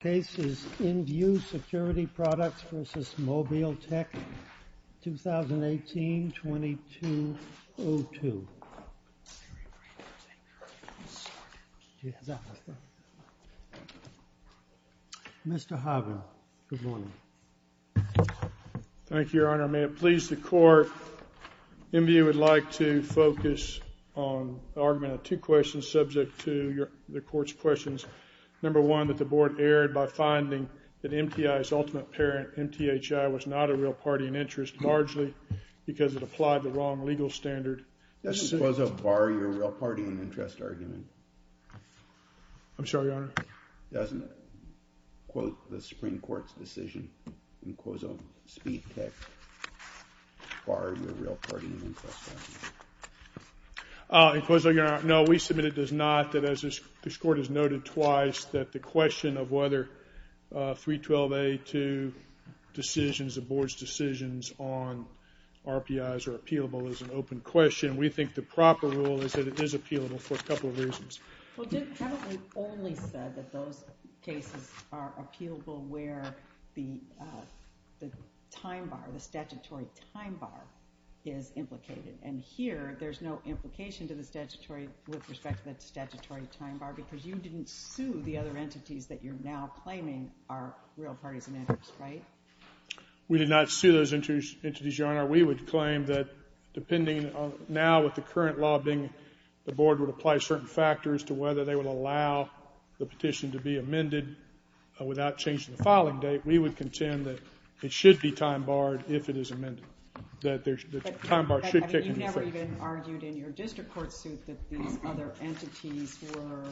Case is InVue Security Products v. Mobile Tech, 2018-2202. Mr. Harvin, good morning. Thank you, Your Honor. May it please the Court, InVue would like to focus on the argument of two questions subject to the Court's questions. Number one, that the Board erred by finding that MTI's ultimate parent, MTHI, was not a real party in interest, largely because it applied the wrong legal standard. Does Inquozo bar your real party in interest argument? I'm sorry, Your Honor? Doesn't it quote the Supreme Court's decision, Inquozo Speed Tech, bar your real party in interest argument? Inquozo, Your Honor, no, we submit it does not, that as this Court has noted twice, that the question of whether 312A-2 decisions, the Board's decisions on RPIs are appealable is an open question. We think the proper rule is that it is appealable for a couple of reasons. Well, Dick probably only said that those cases are appealable where the time bar, the statutory time bar is implicated. And here, there's no implication to the statutory with respect to the statutory time bar, because you didn't sue the other entities that you're now claiming are real parties in interest, right? We did not sue those entities, Your Honor. We would claim that, depending now with the current law being, the Board would apply certain factors to whether they would allow the petition to be amended without changing the filing date. We would contend that it should be time barred if it is amended. That the time bar should kick in. You never even argued in your district court suit that these other entities were,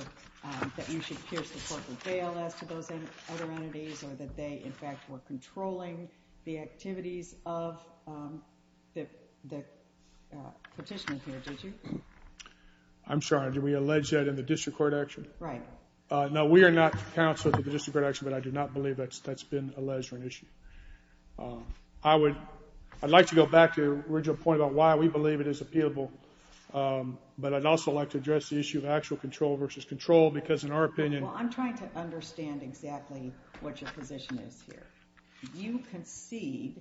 that you should pierce the court with bail as to those other entities, or that they, in fact, were controlling the activities of the petitioner here, did you? I'm sorry, did we allege that in the district court action? Right. No, we are not counsel to the district court action, but I do not believe that's been alleged or an issue. I would, I'd like to go back to your original point about why we believe it is appealable, but I'd also like to address the issue of actual control versus control, because in our opinion... Well, I'm trying to understand exactly what your position is here. You concede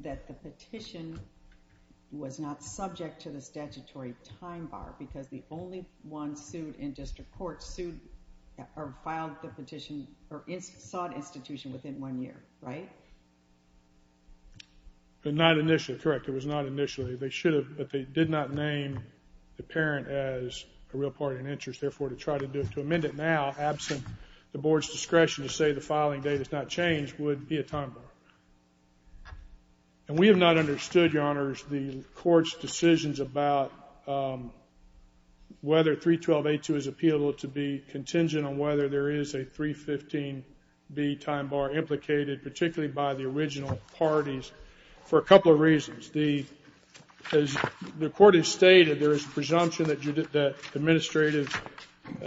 that the petition was not subject to the statutory time bar, because the only one sued in district court sued, or filed the petition, or sought institution within one year, right? Not initially, correct. It was not initially. They should have, but they did not name the parent as a real party in interest. Therefore, to try to amend it now, absent the board's discretion to say the filing date has not changed, would be a time bar. And we have not understood, Your Honors, the court's decisions about whether 312A2 is appealable to be contingent on whether there is a 315B time bar implicated, particularly by the original parties, for a couple of reasons. The, as the court has stated, there is a presumption that administrative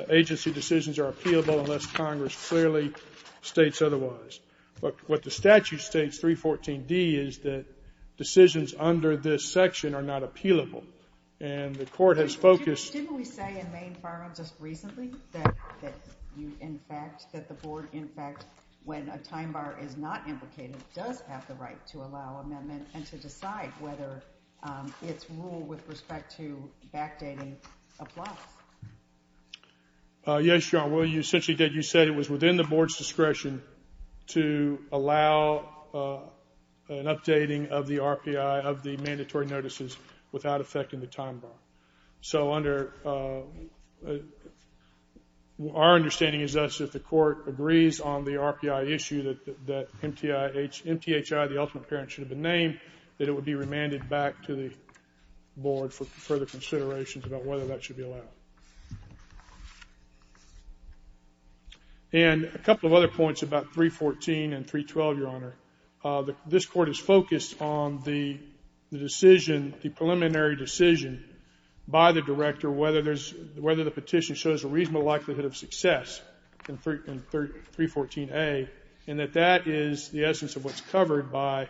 agency decisions are appealable unless Congress clearly states otherwise. But what the statute states, 314D, is that decisions under this section are not appealable, and the court has focused... Didn't we say in Maine Firearms just recently that you, in fact, that the board, in fact, when a time bar is not implicated, does have the right to allow amendment and to decide whether its rule with respect to backdating applies? Yes, Your Honor. Well, you essentially did. You said it was within the board's discretion to allow an updating of the RPI, of the mandatory notices, without affecting the time bar. So under our understanding is thus, if the court agrees on the RPI issue that MTIH MTHI, the ultimate parent, should have been named, that it would be remanded back to the board for further considerations about whether that should be allowed. And a couple of other points about 314 and 312, Your Honor. This Court is focused on the decision, the preliminary decision by the director whether there's, whether the petition shows a reasonable likelihood of success in 314A, and that that is the essence of what's covered by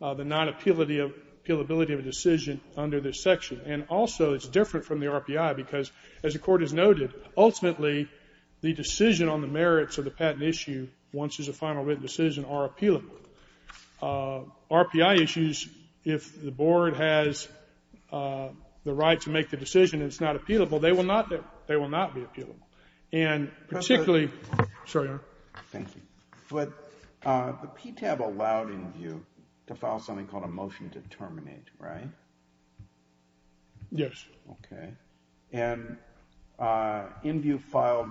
the non-appealability of a decision under this section. And also it's different from the RPI because, as the Court has noted, ultimately the decision on the merits of the patent issue, once there's a final written decision, are appealable. RPI issues, if the board has the right to make the decision and it's not appealable, they will not be appealable. And particularly the PTAB allowed in view to file something called a motion to terminate. Right? Yes. Okay. And in view filed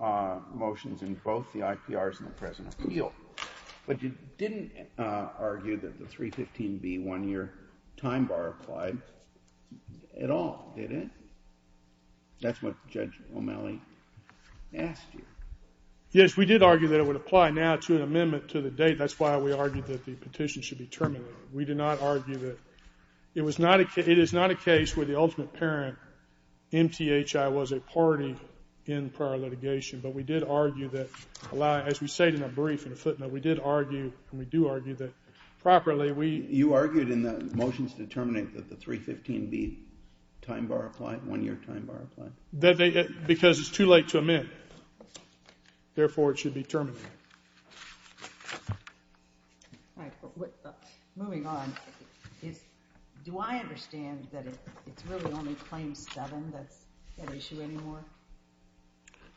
motions in both the IPRs and the present appeal, but you didn't argue that the 315B one-year time bar applied at all, did it? That's what Judge O'Malley asked you. Yes, we did argue that it would apply now to an amendment to the date. That's why we argued that the petition should be terminated. We did not argue that it was not a case where the ultimate parent, MTHI, was a party in prior litigation. But we did argue that, as we say in a brief, in a footnote, we did argue and we do argue that properly we You argued in the motions to terminate that the 315B time bar applied, one-year time bar applied? Because it's too late to amend. Therefore, it should be terminated. All right. Moving on. Do I understand that it's really only Claim 7 that's at issue anymore?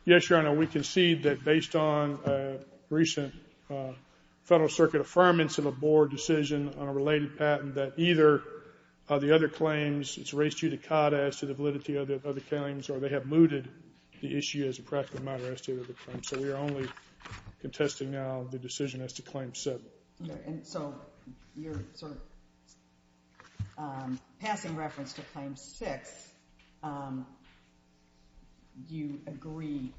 Yes, Your Honor, we concede that based on recent Federal Circuit affirmance of a board decision on a related patent, that either the other claims, it's raised judicata as to the validity of the claims, or they have mooted the issue as a practical matter as to the claims. So we are only contesting now the decision as to Claim 7. And so you're sort of passing reference to Claim 6. You agree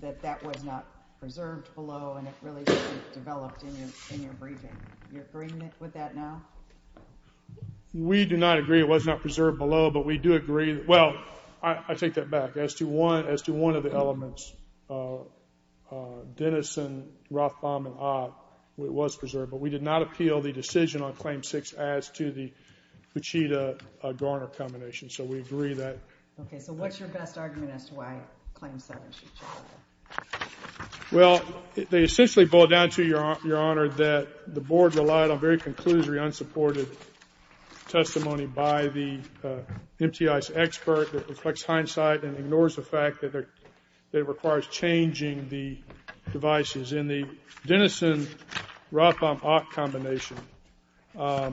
that that was not preserved below and it really developed in your briefing. Do you agree with that now? We do not agree it was not preserved below, but we do agree, well, I take that back. As to one of the elements, Denison, Rothbaum, and Ott, it was preserved. But we did not appeal the decision on Claim 6 as to the Pachita-Garner combination. So we agree that. Okay. So what's your best argument as to why Claim 7 should be preserved? Well, they essentially boil down to, Your Honor, that the board relied on very conclusory unsupported testimony by the MTI's expert that reflects hindsight and ignores the fact that it requires changing the devices in the Denison-Rothbaum-Ott combination. But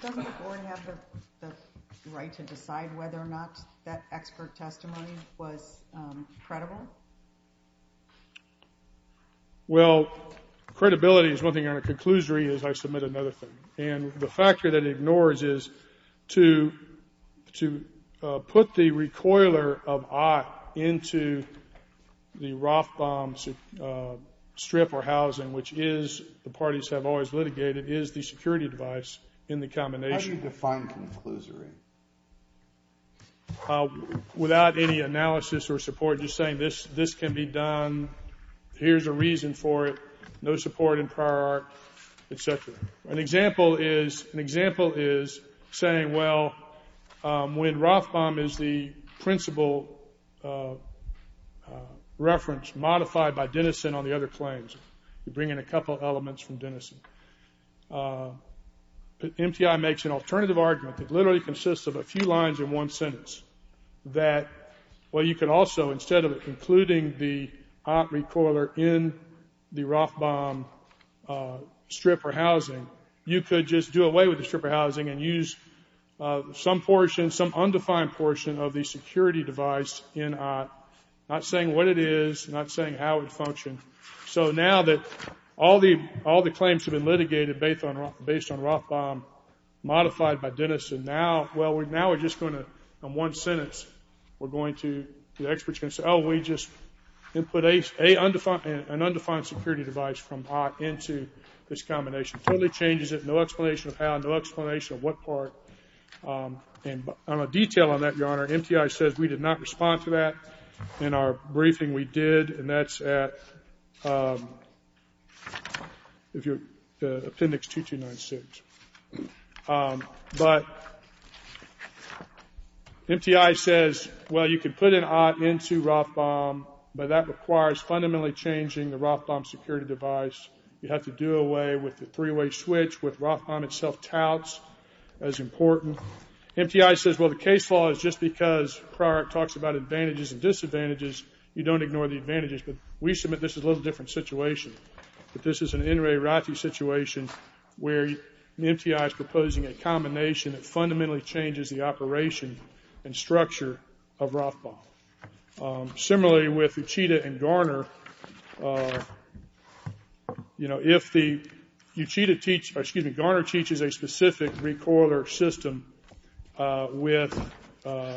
doesn't the board have the right to decide whether or not that expert testimony was credible? Well, credibility is one thing, and a conclusory is I submit another thing. And the factor that it ignores is to put the recoiler of Ott into the Rothbaum strip or housing, which is, the parties have always litigated, is the security device in the combination. How do you define conclusory? Without any analysis or support, just saying this can be done, here's a reason for it, no support in prior art, et cetera. An example is saying, well, when Rothbaum is the principal reference modified by Denison on the other claims, you bring in a couple elements from Denison. MTI makes an alternative argument that literally consists of a few lines in one sentence that, well, you could also, instead of including the Ott recoiler in the Rothbaum strip or housing, you could just do away with the strip or housing and use some portion, some undefined portion of the security device in Ott, not saying what it is, not saying how it functions. So now that all the claims have been litigated based on Rothbaum modified by Denison, now we're just going to, in one sentence, we're going to, the experts are going to say, oh, we just put an undefined security device from Ott into this combination. Totally changes it, no explanation of how, no explanation of what part. And on a detail on that, Your Honor, MTI says we did not respond to that. In our briefing we did, and that's at Appendix 2296. But MTI says, well, you can put an Ott into Rothbaum, but that requires fundamentally changing the Rothbaum security device. You have to do away with the three-way switch with Rothbaum itself touts as important. MTI says, well, the case law is just because Pryorak talks about advantages and disadvantages, you don't ignore the advantages. But we submit this is a little different situation. This is an N. Ray Rathe situation where MTI is proposing a combination that fundamentally changes the operation and structure of Rothbaum. Similarly, with Uchida and Garner, you know, if the Uchida teach, excuse me, Garner teaches a specific recoiler system with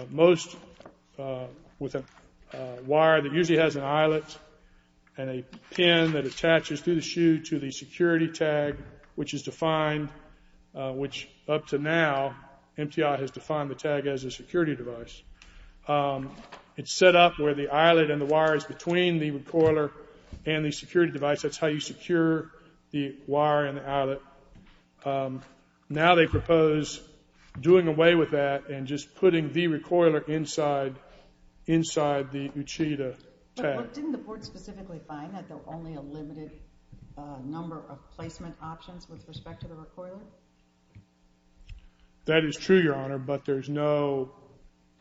most, with a wire that usually has an eyelet and a pin that attaches through the shoe to the security tag, which is defined, which up to now, MTI has defined the tag as a security device. It's set up where the eyelet and the wire is between the recoiler and the security device. That's how you secure the wire and the eyelet. Now they propose doing away with that and just putting the recoiler inside, inside the Uchida tag. But didn't the board specifically find that there were only a limited number of placement options with respect to the recoiler? That is true, Your Honor, but there's no,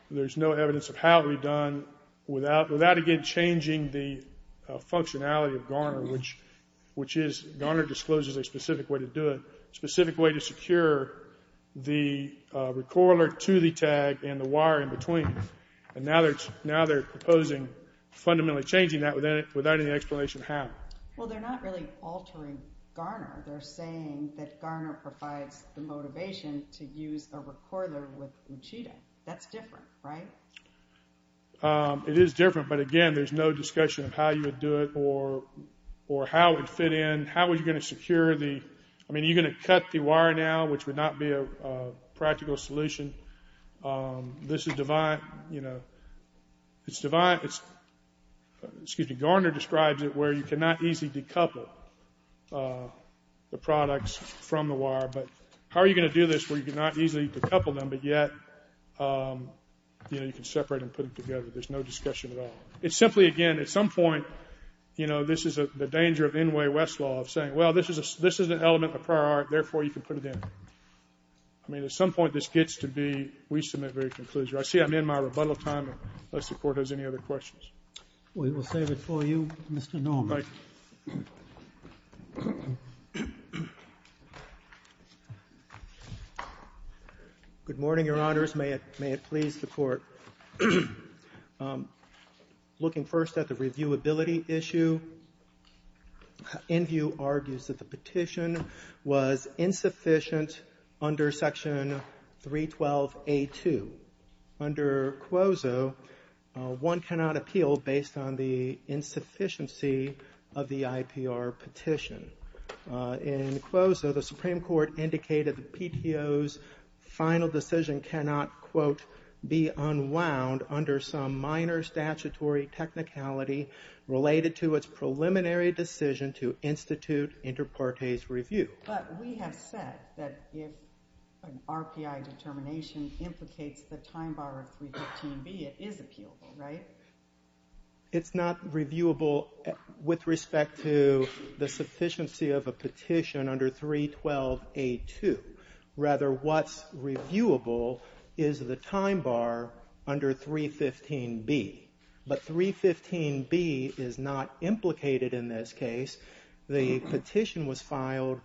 there's no evidence of how it would be done without, without again changing the functionality of Garner, which, which is Garner discloses a specific way to do it, specific way to secure the recoiler to the tag and the wire in between. And now they're proposing fundamentally changing that without any explanation how. Well, they're not really altering Garner. They're saying that Garner provides the motivation to use a recoiler with Uchida. That's different, right? It is different, but again, there's no discussion of how you would do it or, or how it fit in. How are you going to secure the, I mean, you're going to cut the wire now, which would not be a practical solution. This is divine, you know, it's divine. It's, excuse me, Garner describes it where you cannot easily decouple the products from the wire. But how are you going to do this where you cannot easily decouple them, but yet, you know, you can separate and put it together. There's no discussion at all. It's simply, again, at some point, you know, this is the danger of N. Way Westlaw of saying, well, this is a, this is an element of prior art. Therefore you can put it in. I mean, at some point this gets to be, we submit very conclusion. I see I'm in my rebuttal time, unless the court has any other questions. We will save it for you, Mr. Norman. All right. Good morning, your honors. May it, may it please the court. I'm looking first at the reviewability issue. In view argues that the petition was insufficient under section 312. A2. Under Quozo, one cannot appeal based on the insufficiency of the IPR petition. In Quozo, the Supreme Court indicated the PTO's final decision cannot, quote, be unwound under some minor statutory technicality related to its preliminary decision to institute inter partes review. But we have said that if an RPI determination implicates the time bar of 315B, it is appealable, right? It's not reviewable with respect to the sufficiency of a petition under 312A2. Rather, what's reviewable is the time bar under 315B, but 315B is not implicated in this case. The petition was filed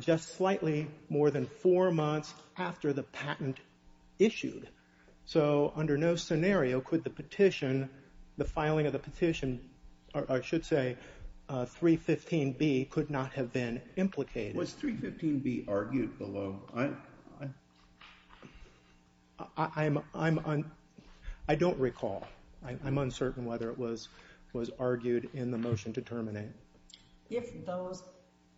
just slightly more than four months after the patent issued. So under no scenario could the petition, the filing of the petition, or I should say 315B, could not have been implicated. Was 315B argued below? I'm, I'm, I don't recall. I'm uncertain whether it was, was argued in the motion to terminate. If those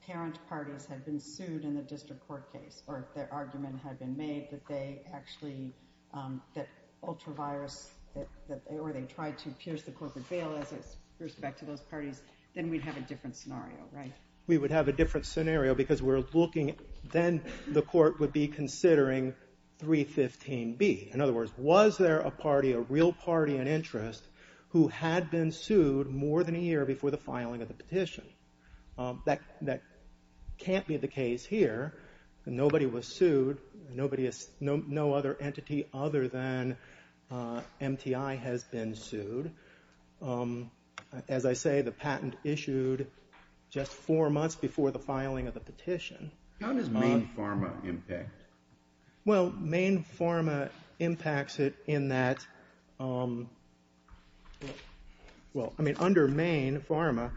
parent parties had been sued in the district court case, or if their argument had been made that they actually, um, that ultra virus, that, that they, or they tried to pierce the corporate veil as a respect to those parties, then we'd have a different scenario, right? We would have a different scenario because we're looking, then the court would be considering 315B. In other words, was there a party, a real party and interest who had been sued more than a year before the filing of the petition? Um, that, that can't be the case here. Nobody was sued. Nobody is, no, no other entity other than, uh, MTI has been sued. Um, as I say, the patent issued just four months before the filing of the petition. How does Main Pharma impact? Well, Main Pharma impacts it in that, um, well, I mean, under Main Pharma,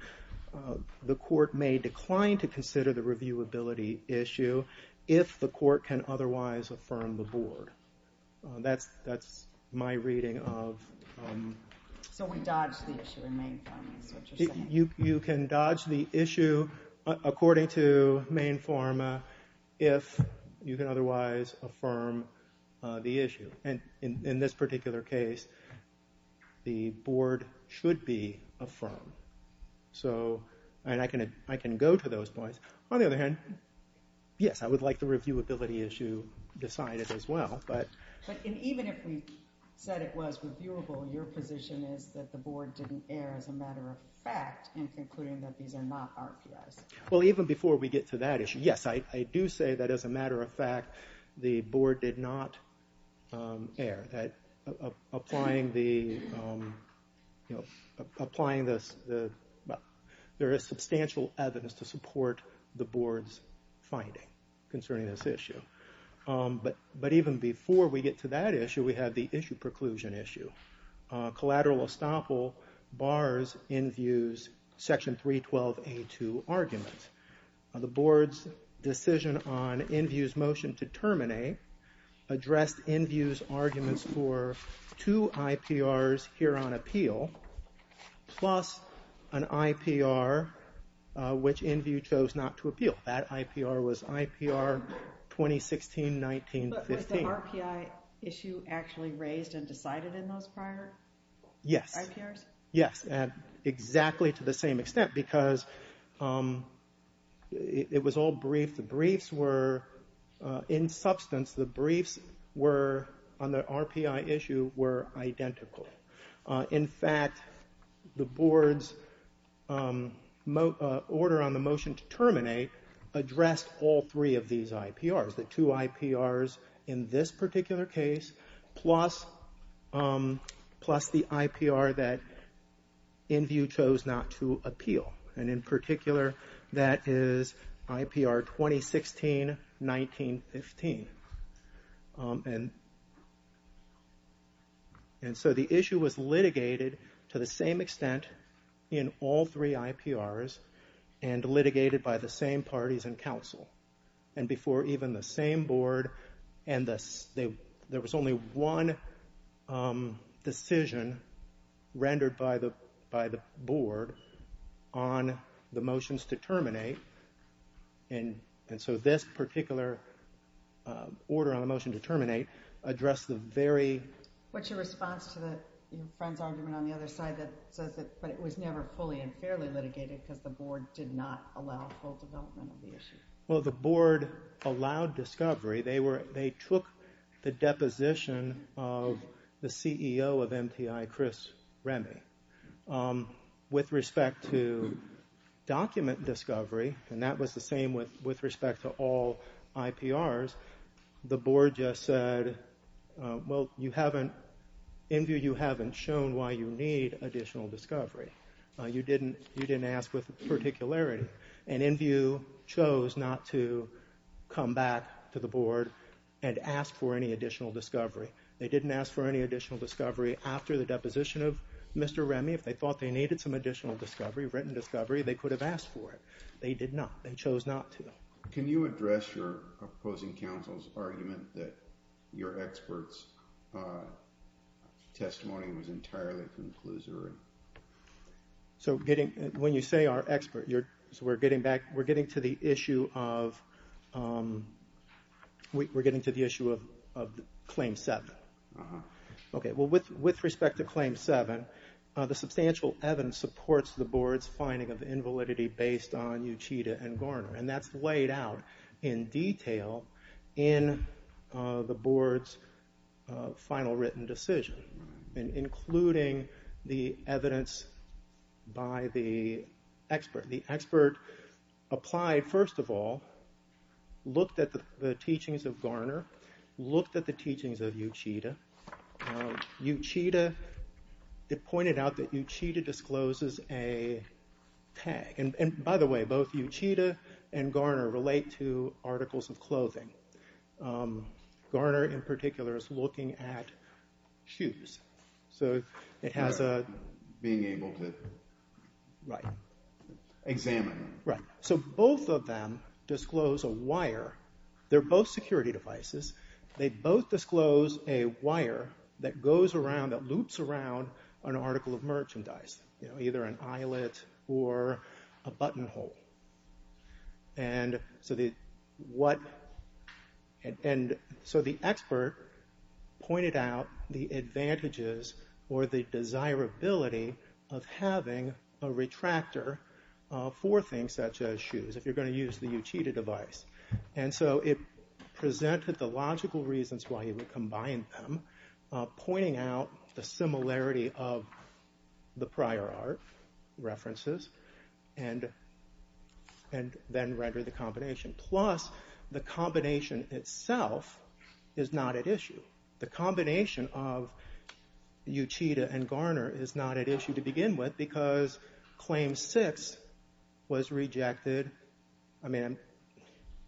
uh, the court may decline to consider the reviewability issue if the court can otherwise affirm the board. Uh, that's, that's my reading of, um. So we dodge the issue in Main Pharma is what you're saying? You, you can dodge the issue according to Main Pharma if you can otherwise affirm, uh, the issue. And in, in this particular case, the board should be affirmed. So, and I can, I can go to those points. On the other hand, yes, I would like the reviewability issue decided as well, but. But even if we said it was reviewable, your position is that the board didn't err as a matter of fact in concluding that these are not RPIs. Well, even before we get to that issue, yes, I, I do say that as a matter of fact, the board did not, um, err. That applying the, um, you know, applying this, the, there is substantial evidence to support the board's finding concerning this issue. Um, but, but even before we get to that issue, we have the issue preclusion issue. Uh, collateral estoppel bars Inview's section 312A2 argument. The board's decision on Inview's motion to terminate addressed Inview's arguments for two IPRs here on appeal plus an IPR, uh, which Inview chose not to appeal. That IPR was IPR 2016-19-15. But was the RPI issue actually raised and decided in those prior IPRs? Yes. Yes. And exactly to the same extent because, um, it, it was all brief. The briefs were, uh, in substance, the briefs were on the RPI issue were identical. Uh, in fact, the board's, um, mo, uh, order on the motion to terminate addressed all three of these IPRs. The two IPRs in this particular case plus, um, plus the IPR that Inview chose not to appeal. And in particular, that is IPR 2016-19-15. Um, and, and so the issue was litigated to the same extent in all three IPRs and litigated by the same parties and counsel. And before even the same board and the, there was only one, um, decision rendered by the, by the board on the motions to terminate. And, and so this particular, uh, order on the motion to terminate addressed the very. What's your response to the, you know, friend's argument on the other side that says that, but it was never fully and fairly litigated because the board did not allow full development of the issue. Well, the board allowed discovery. They were, they took the deposition of the CEO of MTI, Chris Remy, um, with respect to document discovery. And that was the same with, with respect to all IPRs. The board just said, uh, well, you haven't in view. You haven't shown why you need additional discovery. Uh, you didn't, you didn't ask with particularity and in view chose not to come back to the board and ask for any additional discovery. They didn't ask for any additional discovery after the deposition of Mr. Remy. If they thought they needed some additional discovery, written discovery, they could have asked for it. They did not. They chose not to. Can you address your opposing counsel's argument that your experts, uh, testimony was entirely conclusory? So getting, when you say our expert, you're, so we're getting back, we're getting to the issue of, um, we're getting to the issue of, of claim seven. Uh huh. Okay. Well, with, with respect to claim seven, uh, the substantial evidence supports the board's finding of invalidity based on Uchida and Garner. And that's laid out in detail in, uh, the board's, uh, final written decision and including the evidence by the expert. The expert applied first of all, looked at the teachings of Garner, looked at the teachings of Uchida. Uh, Uchida, it pointed out that Uchida discloses a tag. And, and by the way, both Uchida and Garner relate to articles of clothing. Um, Garner in particular is looking at shoes. So it has, uh. Being able to. Right. Examine. Right. So both of them disclose a wire. They're both security devices. They both disclose a wire that goes around, that loops around an article of merchandise, you know, either an eyelet or a buttonhole. And so the, what, and, and so the expert pointed out the advantages or the desirability of having a retractor, uh, for things such as shoes, if you're going to use the Uchida device. And so it presented the logical reasons why he would combine them, uh, pointing out the similarity of the prior art references and, and then render the combination. Plus the combination itself is not at issue. The combination of Uchida and Garner is not at issue to begin with because claim six was rejected. I mean,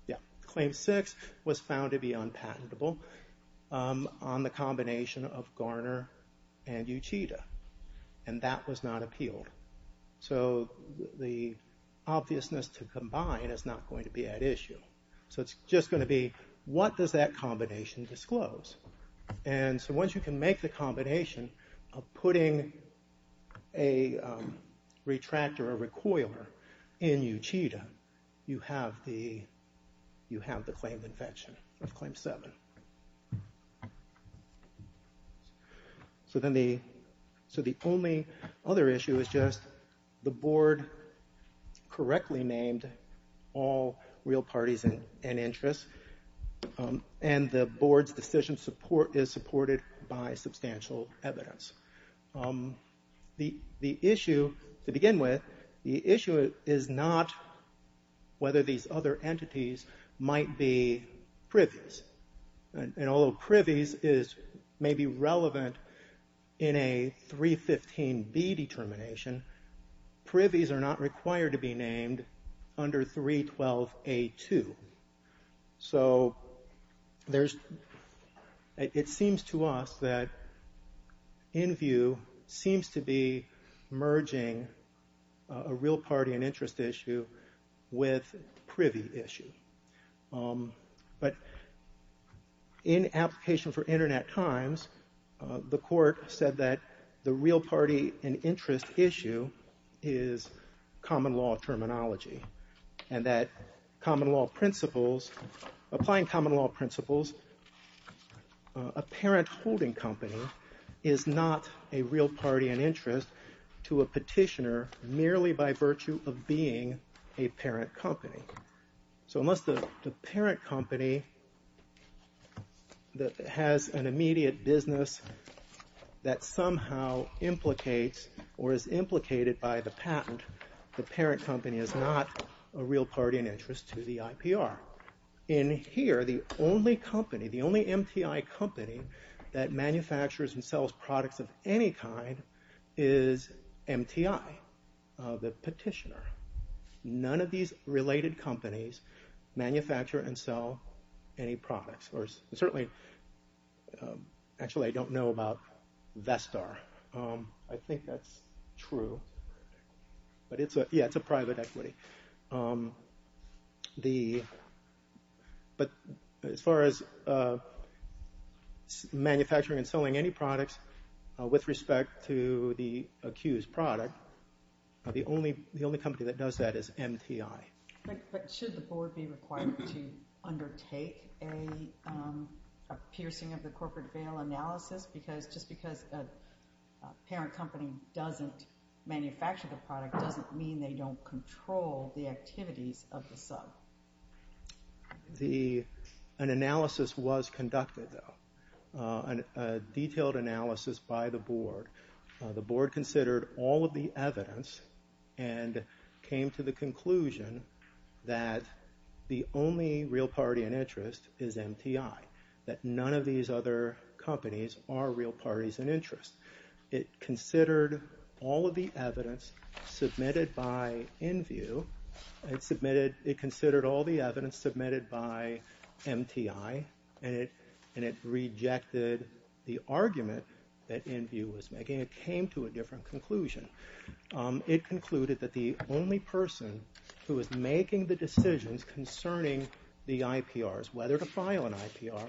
yeah. Claim six was found to be unpatentable, um, on the combination of Garner and Uchida. And that was not appealed. So the obviousness to combine is not going to be at issue. So it's just going to be, what does that combination disclose? And so once you can make the combination of putting a, um, retractor or recoiler in Uchida, you have the, you have the claimed infection of claim seven. So then the, so the only other issue is just the board correctly named all real parties and, and interests. Um, and the board's decision support is supported by substantial evidence. Um, the, the issue to begin with, the issue is not whether these other entities might be previous. And although privies is maybe relevant in a 315 B determination, privies are not required to be named under 312 A2. So there's, it seems to us that in view seems to be merging a real party and interest issue with privy issue. Um, but in application for internet times, uh, the court said that the real party and interest issue is common law terminology and that common law principles, applying common law principles, uh, apparent holding company is not a real party and interest to a petitioner merely by virtue of being a parent company. So unless the parent company that has an immediate business that somehow implicates or is implicated by the patent, the parent company is not a real party and interest to the IPR. In here, the only company, the only MTI company that manufactures and sells products of any kind is MTI, uh, the petitioner. None of these related companies manufacture and sell any products or certainly, um, actually I don't know about Vestar. Um, I think that's true. But it's a, yeah, it's a private equity. Um, the, but as far as, uh, manufacturing and selling any products, uh, with respect to the accused product, uh, the only, the only company that does that is MTI. But should the board be required to undertake a, um, a piercing of the corporate bail analysis because just because a parent company doesn't manufacture the product doesn't mean they don't control the activities of the sub. The, an analysis was conducted though. Uh, a detailed analysis by the board. Uh, the board considered all of the evidence and came to the conclusion that the only real party and interest is MTI, that none of these other companies are real parties and interest. It considered all of the evidence submitted by InView. It submitted, it considered all the evidence submitted by MTI and it, and it rejected the argument that InView was making. It came to a different conclusion. Um, it concluded that the only person who was making the decisions concerning the IPRs, whether to file an IPR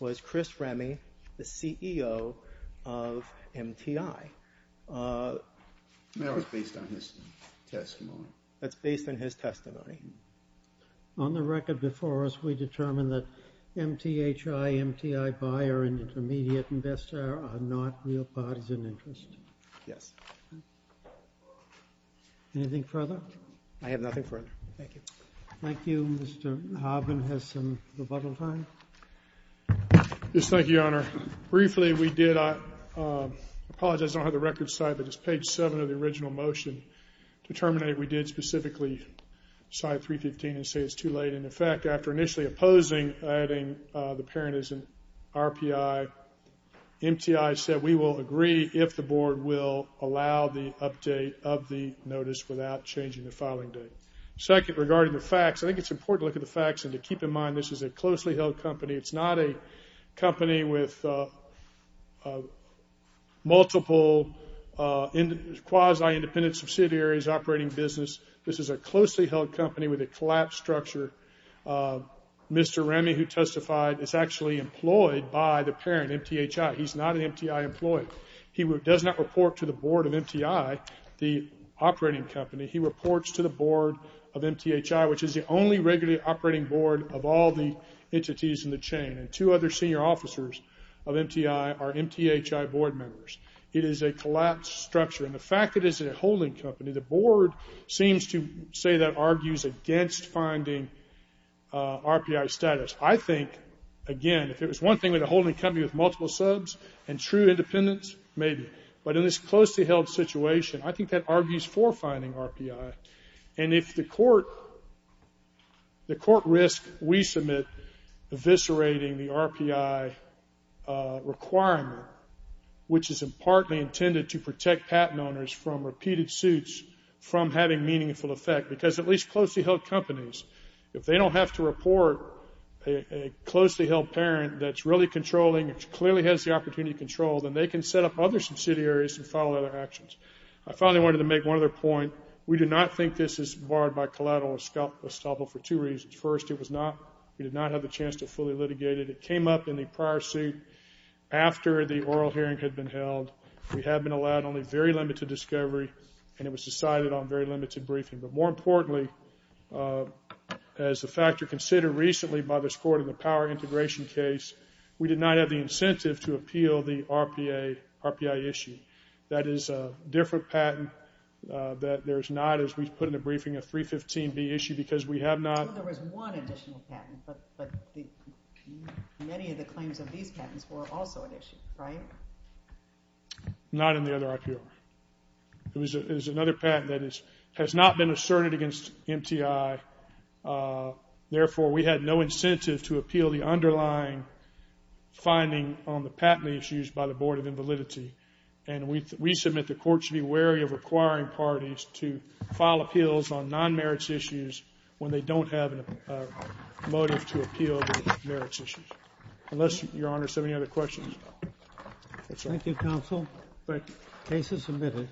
was Chris Remy, the CEO of MTI. Uh. That was based on his testimony. That's based on his testimony. On the record before us, we determined that MTI, MTI buyer and intermediate investor are not real parties and interest. Yes. Anything further? I have nothing further. Thank you. Thank you. Mr. Harbin has some rebuttal time. Yes. Thank you, Your Honor. Briefly, we did apologize. I don't have the record side, but it's page seven of the original motion to terminate. We did specifically side 315 and say it's too late. And in fact, after initially opposing adding the parent as an RPI, MTI said, we will agree if the board will allow the update of the notice without changing the filing date. Second, regarding the facts, I think it's important to look at the facts and to keep in mind, this is a closely held company. It's not a company with multiple quasi-independent subsidiaries, operating business. This is a closely held company with a collapsed structure. Mr. Remy, who testified, is actually employed by the parent, MTHI. He's not an MTI employee. He does not report to the board of MTI, the operating company. He reports to the board of MTHI, which is the only regularly operating board of all the entities in the chain. And two other senior officers of MTI are MTHI board members. It is a collapsed structure. And the fact that it is a holding company, the board seems to say that argues against finding RPI status. I think, again, if it was one thing with a holding company with multiple subs and true independence, maybe. But in this closely held situation, I think that argues for finding RPI. And if the court risks we submit eviscerating the RPI requirement, which is partly intended to protect patent owners from repeated suits from having meaningful effect, because at least closely held companies, if they don't have to report a closely held parent that's really controlling, clearly has the opportunity to control, then they can set up other subsidiaries and follow their actions. I finally wanted to make one other point. We do not think this is barred by collateral estoppel for two reasons. First, we did not have the chance to fully litigate it. It came up in the prior suit after the oral hearing had been held. We have been allowed only very limited discovery, and it was decided on very limited briefing. But more importantly, as a factor considered recently by this court in the power integration case, we did not have the incentive to appeal the RPI issue. That is a different patent that there's not, as we've put in the briefing, a 315B issue because we have not... There was one additional patent, but many of the claims of these patents were also an issue, right? Not in the other RPI. It was another patent that has not been asserted against MTI. Therefore, we had no incentive to appeal the underlying finding on the patent issues by the Board of Invalidity. And we submit the court should be wary of requiring parties to file appeals on non-merits issues when they don't have a motive to appeal the merits issues. Unless, Your Honor, does somebody have any other questions? Thank you, Counsel. Thank you. Case is submitted.